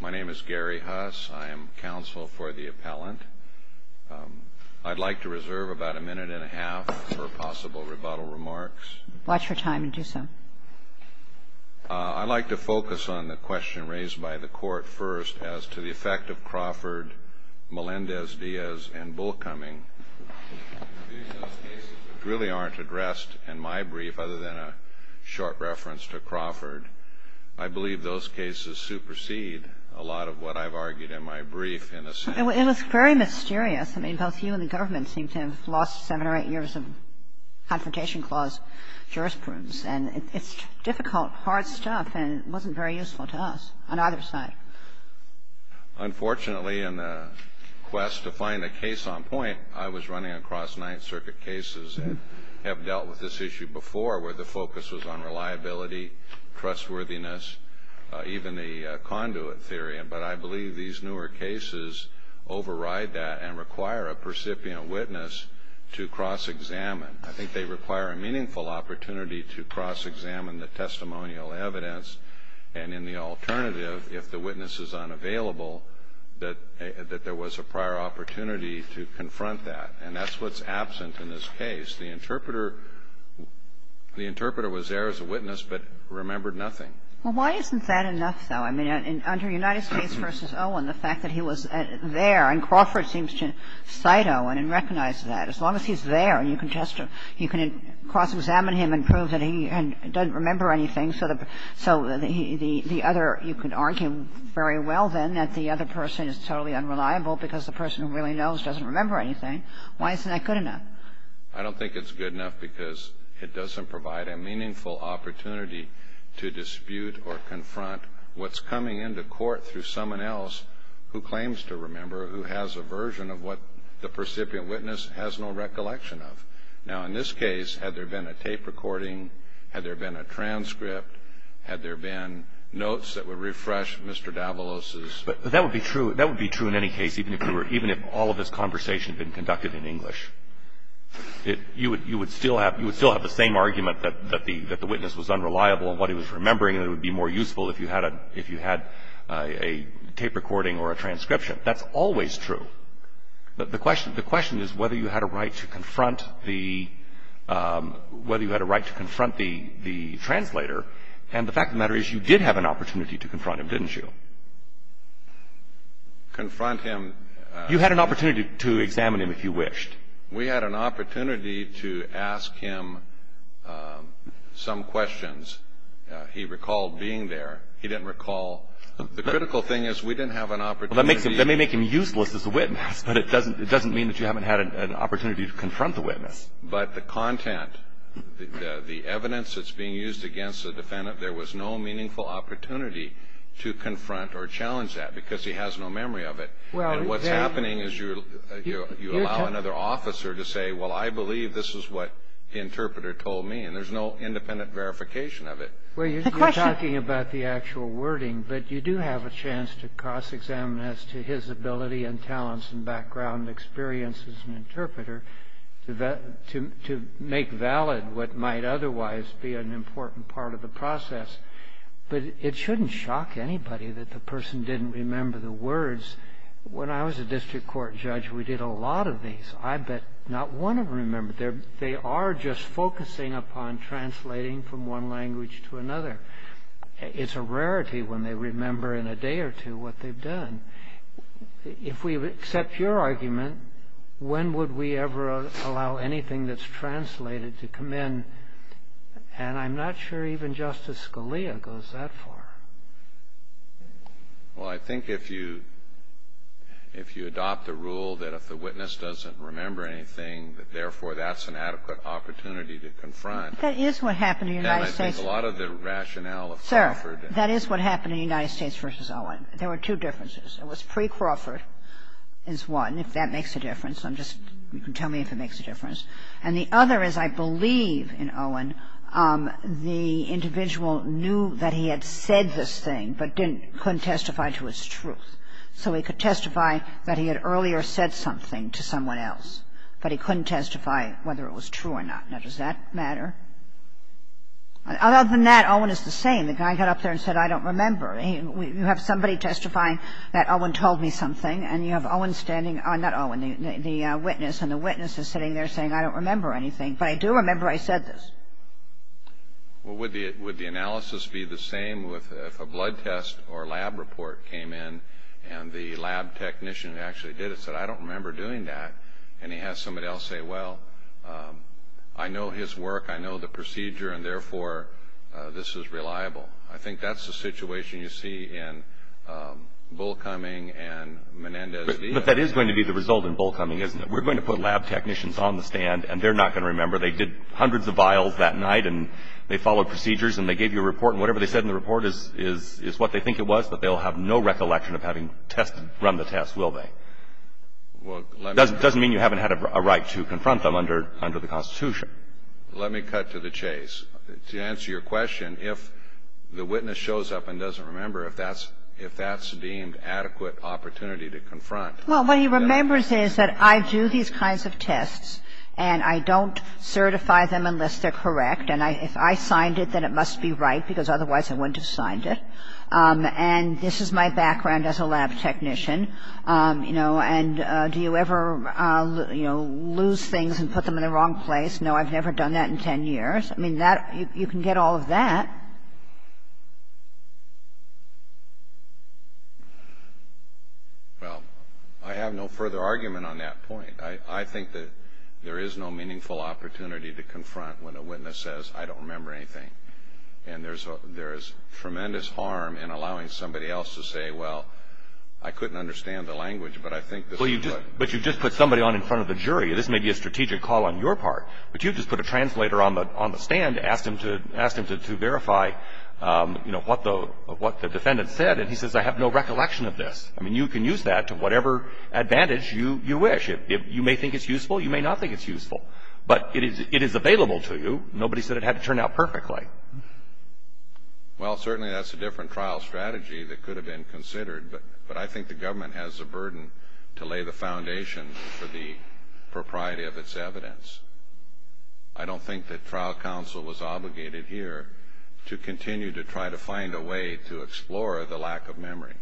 My name is Gary Huss. I am counsel for the appellant. I'd like to reserve about a minute and a half for possible rebuttal remarks. Watch your time and do so. I'd like to focus on the question raised by the court first as to the effect of Crawford, Melendez-Diaz, and Bullcoming. Those cases really aren't addressed in my brief other than a short reference to Crawford. I believe those cases supersede a lot of what I've argued in my brief in the Senate. It was very mysterious. I mean, both you and the government seem to have lost seven or eight years of Confrontation Clause jurisprudence. And it's difficult, hard stuff, and it wasn't very useful to us on either side. Unfortunately, in the quest to find a case on point, I was running across Ninth Circuit cases that have dealt with this issue before, where the focus was on reliability, trustworthiness, even the conduit theory. But I believe these newer cases override that and require a percipient witness to cross-examine. I think they require a meaningful opportunity to cross-examine the testimonial evidence. And in the alternative, if the witness is unavailable, that there was a prior opportunity to confront that. And that's what's absent in this case. The interpreter was there as a witness but remembered nothing. Well, why isn't that enough, though? I mean, under United States v. Owen, the fact that he was there, and Crawford seems to cite Owen and recognize that. As long as he's there, you can just cross-examine him and prove that he doesn't remember anything. So the other you could argue very well, then, that the other person is totally unreliable because the person who really knows doesn't remember anything. Why isn't that good enough? I don't think it's good enough because it doesn't provide a meaningful opportunity to dispute or confront what's coming into court through someone else who claims to remember, who has a version of what the percipient witness has no recollection of. Now, in this case, had there been a tape recording, had there been a transcript, had there been notes that would refresh Mr. Davalos's? That would be true. That would be true in any case, even if all of this conversation had been conducted in English. You would still have the same argument that the witness was unreliable in what he was remembering and it would be more useful if you had a tape recording or a transcription. That's always true. The question is whether you had a right to confront the translator, and the fact of the matter is you did have an opportunity to confront him, didn't you? Confront him. You had an opportunity to examine him if you wished. We had an opportunity to ask him some questions. He recalled being there. He didn't recall. The critical thing is we didn't have an opportunity. Well, that may make him useless as a witness, but it doesn't mean that you haven't had an opportunity to confront the witness. But the content, the evidence that's being used against the defendant, there was no meaningful opportunity to confront or challenge that because he has no memory of it. And what's happening is you allow another officer to say, well, I believe this is what the interpreter told me, and there's no independent verification of it. Well, you're talking about the actual wording, but you do have a chance to cross-examine as to his ability and talents and background and experience as an interpreter to make valid what might otherwise be an important part of the process. But it shouldn't shock anybody that the person didn't remember the words. When I was a district court judge, we did a lot of these. I bet not one of them remembered. They are just focusing upon translating from one language to another. It's a rarity when they remember in a day or two what they've done. If we accept your argument, when would we ever allow anything that's translated to come in? And I'm not sure even Justice Scalia goes that far. Well, I think if you adopt a rule that if the witness doesn't remember anything, that therefore that's an adequate opportunity to confront. That is what happened in the United States. And I think a lot of the rationale of Crawford. Sir, that is what happened in the United States v. Owen. There were two differences. It was pre-Crawford is one, if that makes a difference. I'm just you can tell me if it makes a difference. And the other is I believe in Owen the individual knew that he had said this thing but couldn't testify to its truth. So he could testify that he had earlier said something to someone else, but he couldn't testify whether it was true or not. Now, does that matter? Other than that, Owen is the same. The guy got up there and said, I don't remember. You have somebody testifying that Owen told me something, and you have Owen standing or not Owen, the witness, and the witness is sitting there saying, I don't remember anything. But I do remember I said this. Well, would the analysis be the same if a blood test or lab report came in and the lab technician who actually did it said, I don't remember doing that, and he has somebody else say, well, I know his work, I know the procedure, and therefore this is reliable. I think that's the situation you see in Bullcoming and Menendez-Diaz. But that is going to be the result in Bullcoming, isn't it? We're going to put lab technicians on the stand, and they're not going to remember. They did hundreds of vials that night, and they followed procedures, and they gave you a report, and whatever they said in the report is what they think it was, but they'll have no recollection of having run the test, will they? It doesn't mean you haven't had a right to confront them under the Constitution. Let me cut to the chase. To answer your question, if the witness shows up and doesn't remember, if that's deemed adequate opportunity to confront. Well, what he remembers is that I do these kinds of tests, and I don't certify them unless they're correct, and if I signed it, then it must be right, because otherwise I wouldn't have signed it. And this is my background as a lab technician, you know, and do you ever, you know, lose things and put them in the wrong place? No, I've never done that in 10 years. I mean, you can get all of that. Well, I have no further argument on that point. I think that there is no meaningful opportunity to confront when a witness says, I don't remember anything, and there is tremendous harm in allowing somebody else to say, well, I couldn't understand the language, but I think this is what. But you just put somebody on in front of the jury. This may be a strategic call on your part, but you just put a translator on the stand, asked him to verify, you know, what the defendant said, and he says, I have no recollection of this. I mean, you can use that to whatever advantage you wish. You may think it's useful. You may not think it's useful, but it is available to you. Nobody said it had to turn out perfectly. Well, certainly that's a different trial strategy that could have been considered, but I think the government has a burden to lay the foundation for the propriety of its evidence. I don't think that trial counsel is obligated here to continue to try to find a way to explore the lack of memory.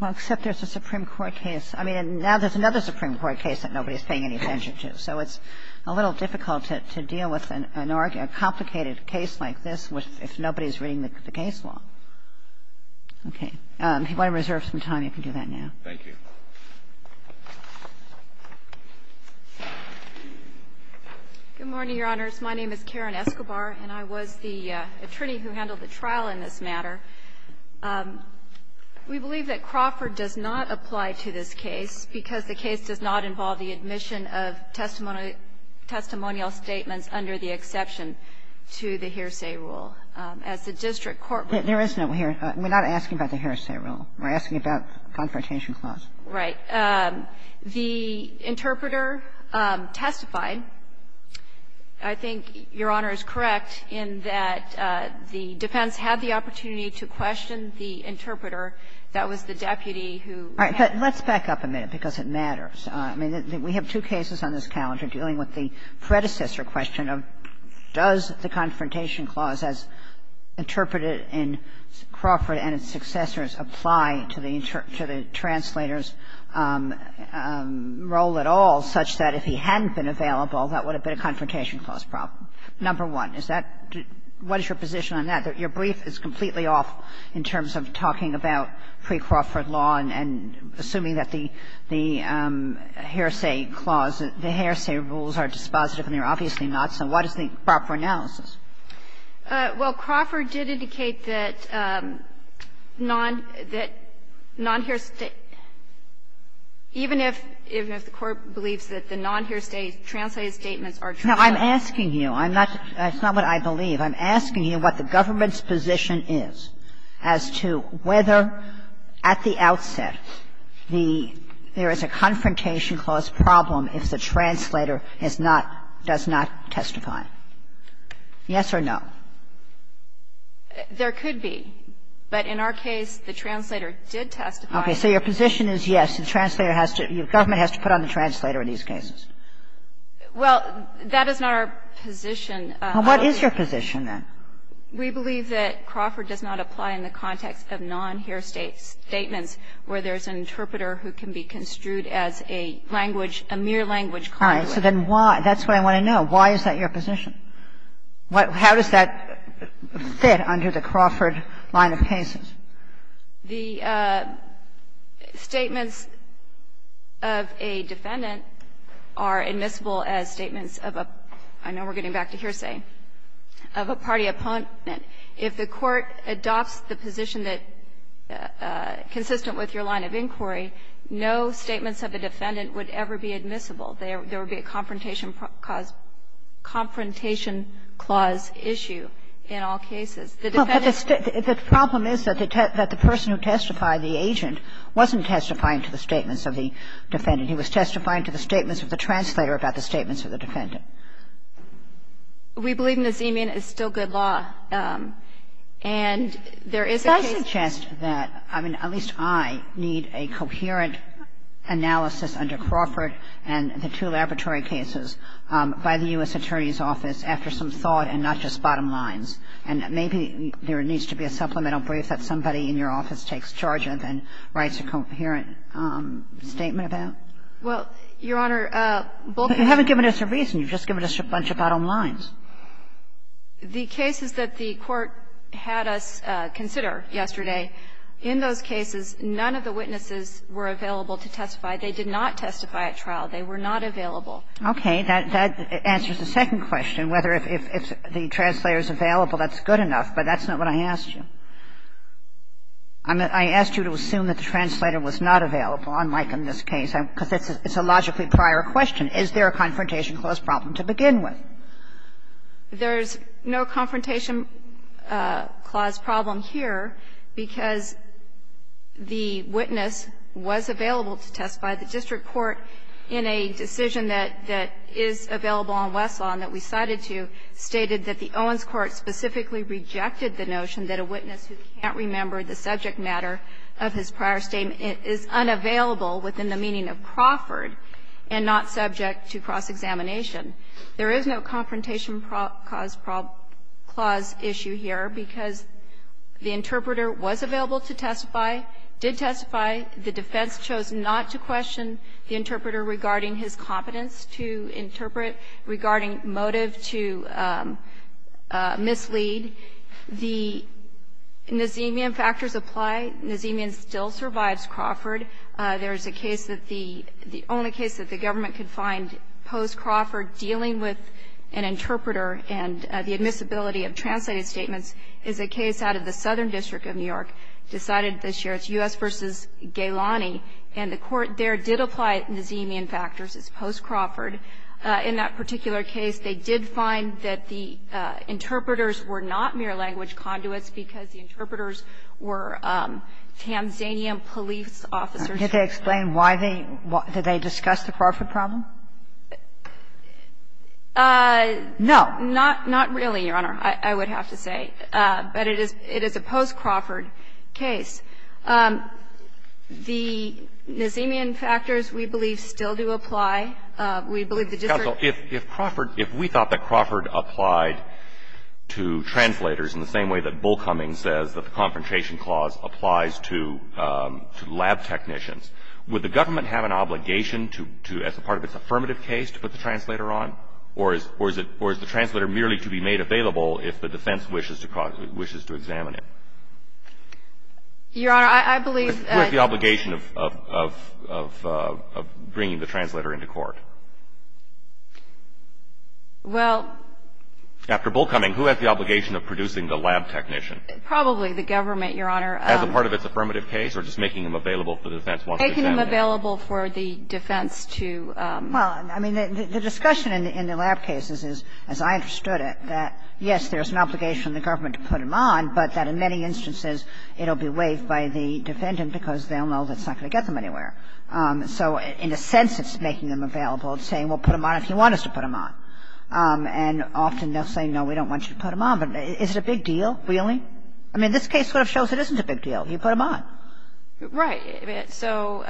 Well, except there's a Supreme Court case. I mean, now there's another Supreme Court case that nobody is paying any attention to, so it's a little difficult to deal with an argument, a complicated case like this, if nobody is reading the case law. Okay. If you want to reserve some time, you can do that now. Thank you. Good morning, Your Honors. My name is Karen Escobar, and I was the attorney who handled the trial in this matter. We believe that Crawford does not apply to this case because the case does not involve the admission of testimonial statements under the exception to the hearsay rule. As the district court would say the case does not apply to the hearsay rule. There is no hearsay rule. We're not asking about the hearsay rule. We're asking about the Confrontation Clause. Right. The interpreter testified. I think Your Honor is correct in that the defense had the opportunity to question the interpreter that was the deputy who had. All right. But let's back up a minute because it matters. I mean, we have two cases on this calendar dealing with the predecessor question of does the Confrontation Clause as interpreted in Crawford and its successors apply to the translator's role at all such that if he hadn't been available, that would have been a Confrontation Clause problem. Number one, is that what is your position on that? Your brief is completely off in terms of talking about pre-Crawford law and assuming that the hearsay clause, the hearsay rules are dispositive and they're obviously not, so what is the proper analysis? Well, Crawford did indicate that non-hearsay, even if the Court believes that the non-hearsay translated statements are true. Now, I'm asking you. That's not what I believe. I'm asking you what the government's position is as to whether at the outset there is a Confrontation Clause problem if the translator has not, does not testify. Yes or no? There could be. But in our case, the translator did testify. Okay. So your position is yes, the translator has to, the government has to put on the translator in these cases. Well, that is not our position. Well, what is your position, then? We believe that Crawford does not apply in the context of non-hearsay statements where there's an interpreter who can be construed as a language, a mere language client. All right. So then why, that's what I want to know. Why is that your position? How does that fit under the Crawford line of cases? The statements of a defendant are admissible as statements of a, I know we're getting back to hearsay, of a party opponent. If the Court adopts the position that, consistent with your line of inquiry, no statements of a defendant would ever be admissible. There would be a Confrontation Clause issue in all cases. The defendant's ---- Well, but the problem is that the person who testified, the agent, wasn't testifying to the statements of the defendant. He was testifying to the statements of the translator about the statements of the defendant. We believe Nazeemian is still good law. And there is a case ---- But I suggest that, I mean, at least I need a coherent analysis under Crawford and the two laboratory cases by the U.S. Attorney's Office after some thought and not just bottom lines. And maybe there needs to be a supplemental brief that somebody in your office takes charge of and writes a coherent statement about. Well, Your Honor, both ---- But you haven't given us a reason. You've just given us a bunch of bottom lines. The cases that the Court had us consider yesterday, in those cases, none of the witnesses were available to testify. They did not testify at trial. They were not available. Okay. That answers the second question, whether if the translator is available, that's good enough. But that's not what I asked you. I asked you to assume that the translator was not available, unlike in this case, because it's a logically prior question. Is there a Confrontation Clause problem to begin with? There's no Confrontation Clause problem here, because the witness was available to testify. The district court, in a decision that is available on Westlaw and that we cited to, stated that the Owens court specifically rejected the notion that a witness who can't remember the subject matter of his prior statement is unavailable within the meaning of Crawford and not subject to cross-examination. There is no Confrontation Clause issue here, because the interpreter was available to testify, did testify. The defense chose not to question the interpreter regarding his competence to interpret, regarding motive to mislead. The Nazemian factors apply. Nazemian still survives Crawford. There is a case that the only case that the government could find post-Crawford dealing with an interpreter and the admissibility of translated statements is a case out of the Southern District of New York decided this year. It's U.S. v. Gailani. And the court there did apply Nazemian factors as post-Crawford. In that particular case, they did find that the interpreters were not mere language conduits because the interpreters were Tanzanian police officers. Kagan, did they explain why they did they discuss the Crawford problem? Not really, Your Honor, I would have to say. But it is a post-Crawford case. The Nazemian factors, we believe, still do apply. We believe the district. Counsel, if Crawford, if we thought that Crawford applied to translators in the same way that Bull Cummings says that the Confrontation Clause applies to lab technicians, would the government have an obligation to, as part of its affirmative case, to put the translator on, or is it, or is the translator merely to be made available if the defense wishes to examine it? Your Honor, I believe. Who has the obligation of bringing the translator into court? Well. After Bull Cummings, who has the obligation of producing the lab technician? Probably the government, Your Honor. As a part of its affirmative case, or just making them available if the defense wants to examine it? Making them available for the defense to. Well, I mean, the discussion in the lab cases is, as I understood it, that, yes, there's an obligation on the government to put them on, but that in many instances it'll be waived by the defendant because they'll know that it's not going to get them anywhere. So in a sense, it's making them available and saying, well, put them on if you want us to put them on. And often they'll say, no, we don't want you to put them on. But is it a big deal, really? I mean, this case sort of shows it isn't a big deal. You put them on. Right. So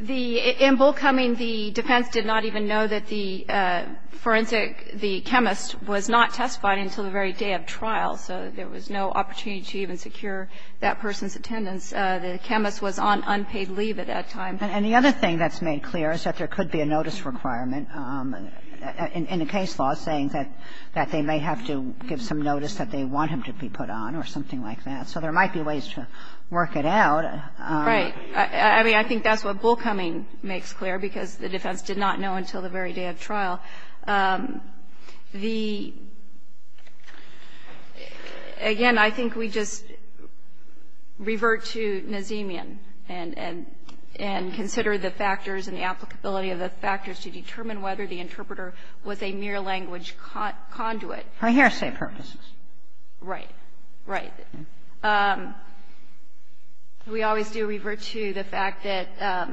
in Bull Cummings, the defense did not even know that the forensic, the chemist was not testified until the very day of trial. So there was no opportunity to even secure that person's attendance. The chemist was on unpaid leave at that time. And the other thing that's made clear is that there could be a notice requirement in the case law saying that they may have to give some notice that they want him to be put on or something like that. So there might be ways to work it out. Right. I mean, I think that's what Bull Cummings makes clear, because the defense did not know until the very day of trial. The – again, I think we just revert to Nazemian and consider the factors and the applicability of the factors to determine whether the interpreter was a mere language conduit. For hearsay purposes. Right. Right. We always do revert to the fact that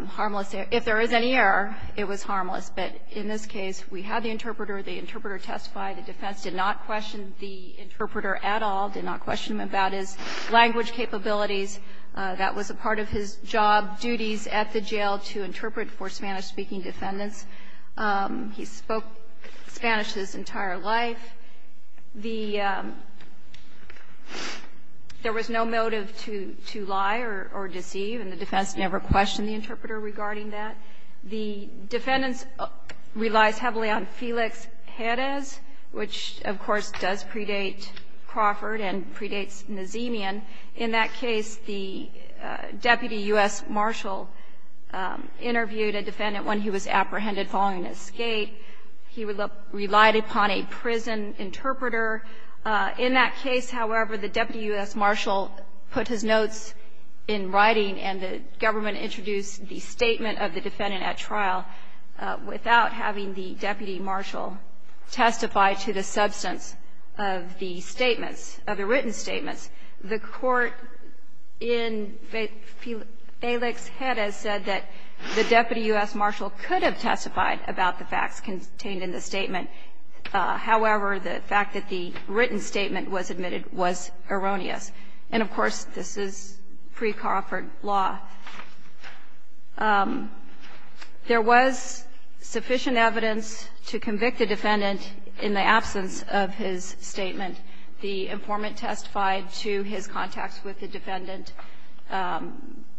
harmless – if there is any error, it was harmless. But in this case, we had the interpreter. The interpreter testified. The defense did not question the interpreter at all, did not question him about his language capabilities. That was a part of his job duties at the jail, to interpret for Spanish-speaking defendants. He spoke Spanish his entire life. The – there was no motive to lie or deceive, and the defense never questioned the interpreter regarding that. The defendants relies heavily on Felix Jerez, which, of course, does predate Crawford and predates Nazemian. In that case, the deputy U.S. marshal interviewed a defendant when he was apprehended following an escape. He relied upon a prison interpreter. In that case, however, the deputy U.S. marshal put his notes in writing, and the government introduced the statement of the defendant at trial without having the deputy marshal testify to the substance of the statements, of the written statements. The court in Felix's head has said that the deputy U.S. marshal could have testified about the facts contained in the statement. However, the fact that the written statement was admitted was erroneous. And, of course, this is pre-Crawford law. There was sufficient evidence to convict the defendant in the absence of his statement. The informant testified to his contacts with the defendant,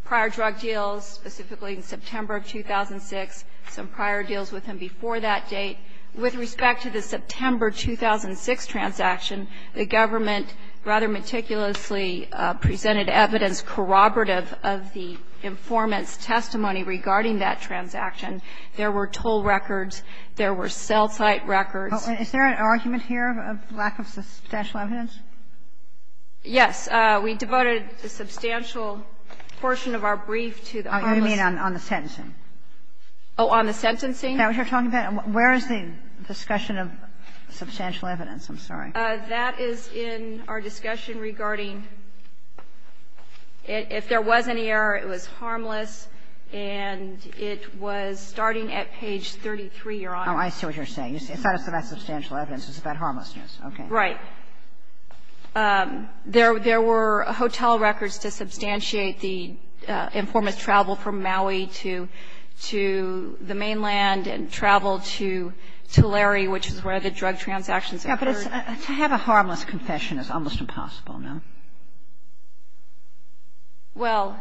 prior drug deals, specifically in September of 2006, some prior deals with him before that date. With respect to the September 2006 transaction, the government rather meticulously presented evidence corroborative of the informant's testimony regarding that transaction. There were toll records. There were cell site records. Is there an argument here of lack of substantial evidence? Yes. We devoted a substantial portion of our brief to the armless. Oh, you mean on the sentencing? Oh, on the sentencing? Where is the discussion of substantial evidence? I'm sorry. That is in our discussion regarding if there was any error, it was harmless. And it was starting at page 33, Your Honor. Oh, I see what you're saying. You said it's not about substantial evidence. It's about harmlessness. Okay. Right. There were hotel records to substantiate the informant's travel from Maui to the mainland and travel to Tulare, which is where the drug transactions occurred. Yes, but to have a harmless confession is almost impossible, no? Well,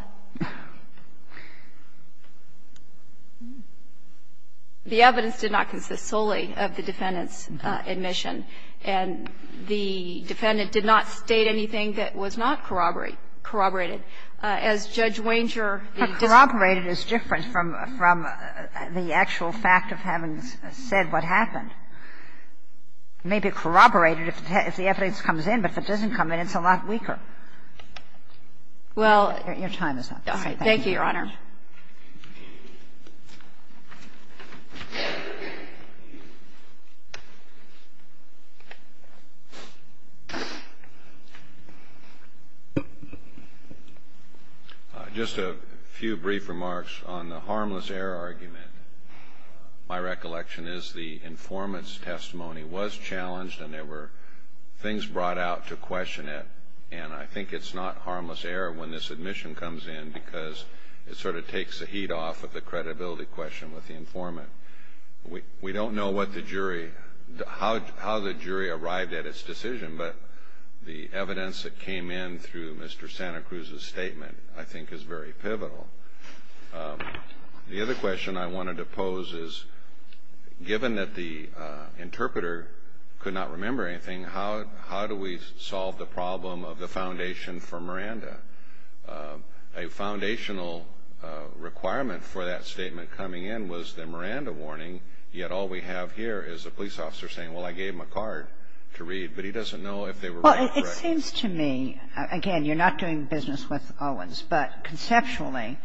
the evidence did not consist solely of the defendant's admission. And the defendant did not state anything that was not corroborated. As Judge Wanger, the district court said that the evidence was not corroborated. And the fact that the evidence was not corroborated, it's not a sexual fact of having said what happened. It may be corroborated if the evidence comes in, but if it doesn't come in, it's a lot weaker. Well, thank you, Your Honor. Just a few brief remarks on the harmless error argument. My recollection is the informant's testimony was challenged and there were things brought out to question it. And I think it's not harmless error when this admission comes in because it sort of takes the heat off of the credibility question with the informant. We don't know what the jury, how the jury arrived at its decision, but the evidence that came in through Mr. Santa Cruz's statement I think is very pivotal. The other question I wanted to pose is, given that the interpreter could not remember anything, how do we solve the problem of the foundation for Miranda? A foundational requirement for that statement coming in was the Miranda warning, yet all we have here is a police officer saying, well, I gave them a card to read, but he doesn't know if they were reading it correctly. Well, it seems to me, again, you're not doing business with Owens, but conceptually,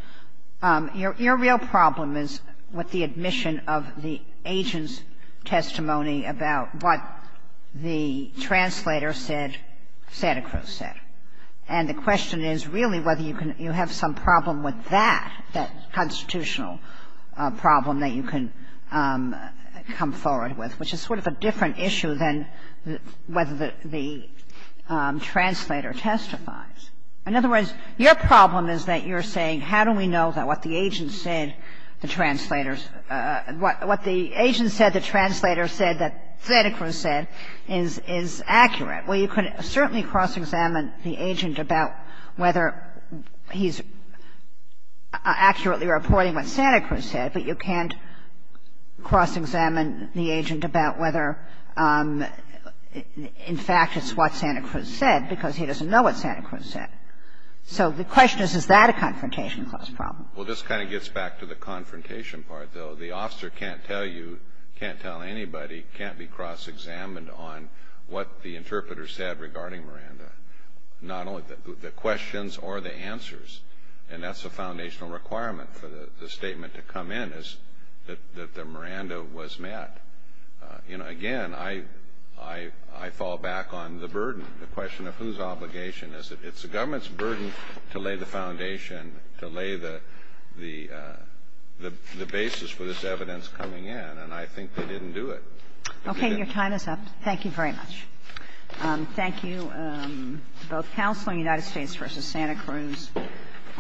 your real problem is with the admission of the agent's testimony about what the translator said Santa Cruz said. And the question is really whether you can you have some problem with that, that constitutional problem that you can come forward with, which is sort of a different issue than whether the translator testifies. In other words, your problem is that you're saying how do we know that what the agent said the translator's – what the agent said the translator said that Santa Cruz said is accurate. Well, you can certainly cross-examine the agent about whether he's accurately reporting what Santa Cruz said, but you can't cross-examine the agent about whether, in fact, it's what Santa Cruz said because he doesn't know what Santa Cruz said. So the question is, is that a confrontation clause problem? Well, this kind of gets back to the confrontation part, though. The officer can't tell you, can't tell anybody, can't be cross-examined on what the interpreter said regarding Miranda, not only the questions or the answers. And that's a foundational requirement for the statement to come in is that the Miranda was met. Again, I fall back on the burden, the question of whose obligation is it. It's the government's burden to lay the foundation, to lay the basis for this evidence coming in, and I think they didn't do it. Okay. Your time is up. Thank you very much. Thank you to both counsel in the United States v. Santa Cruz.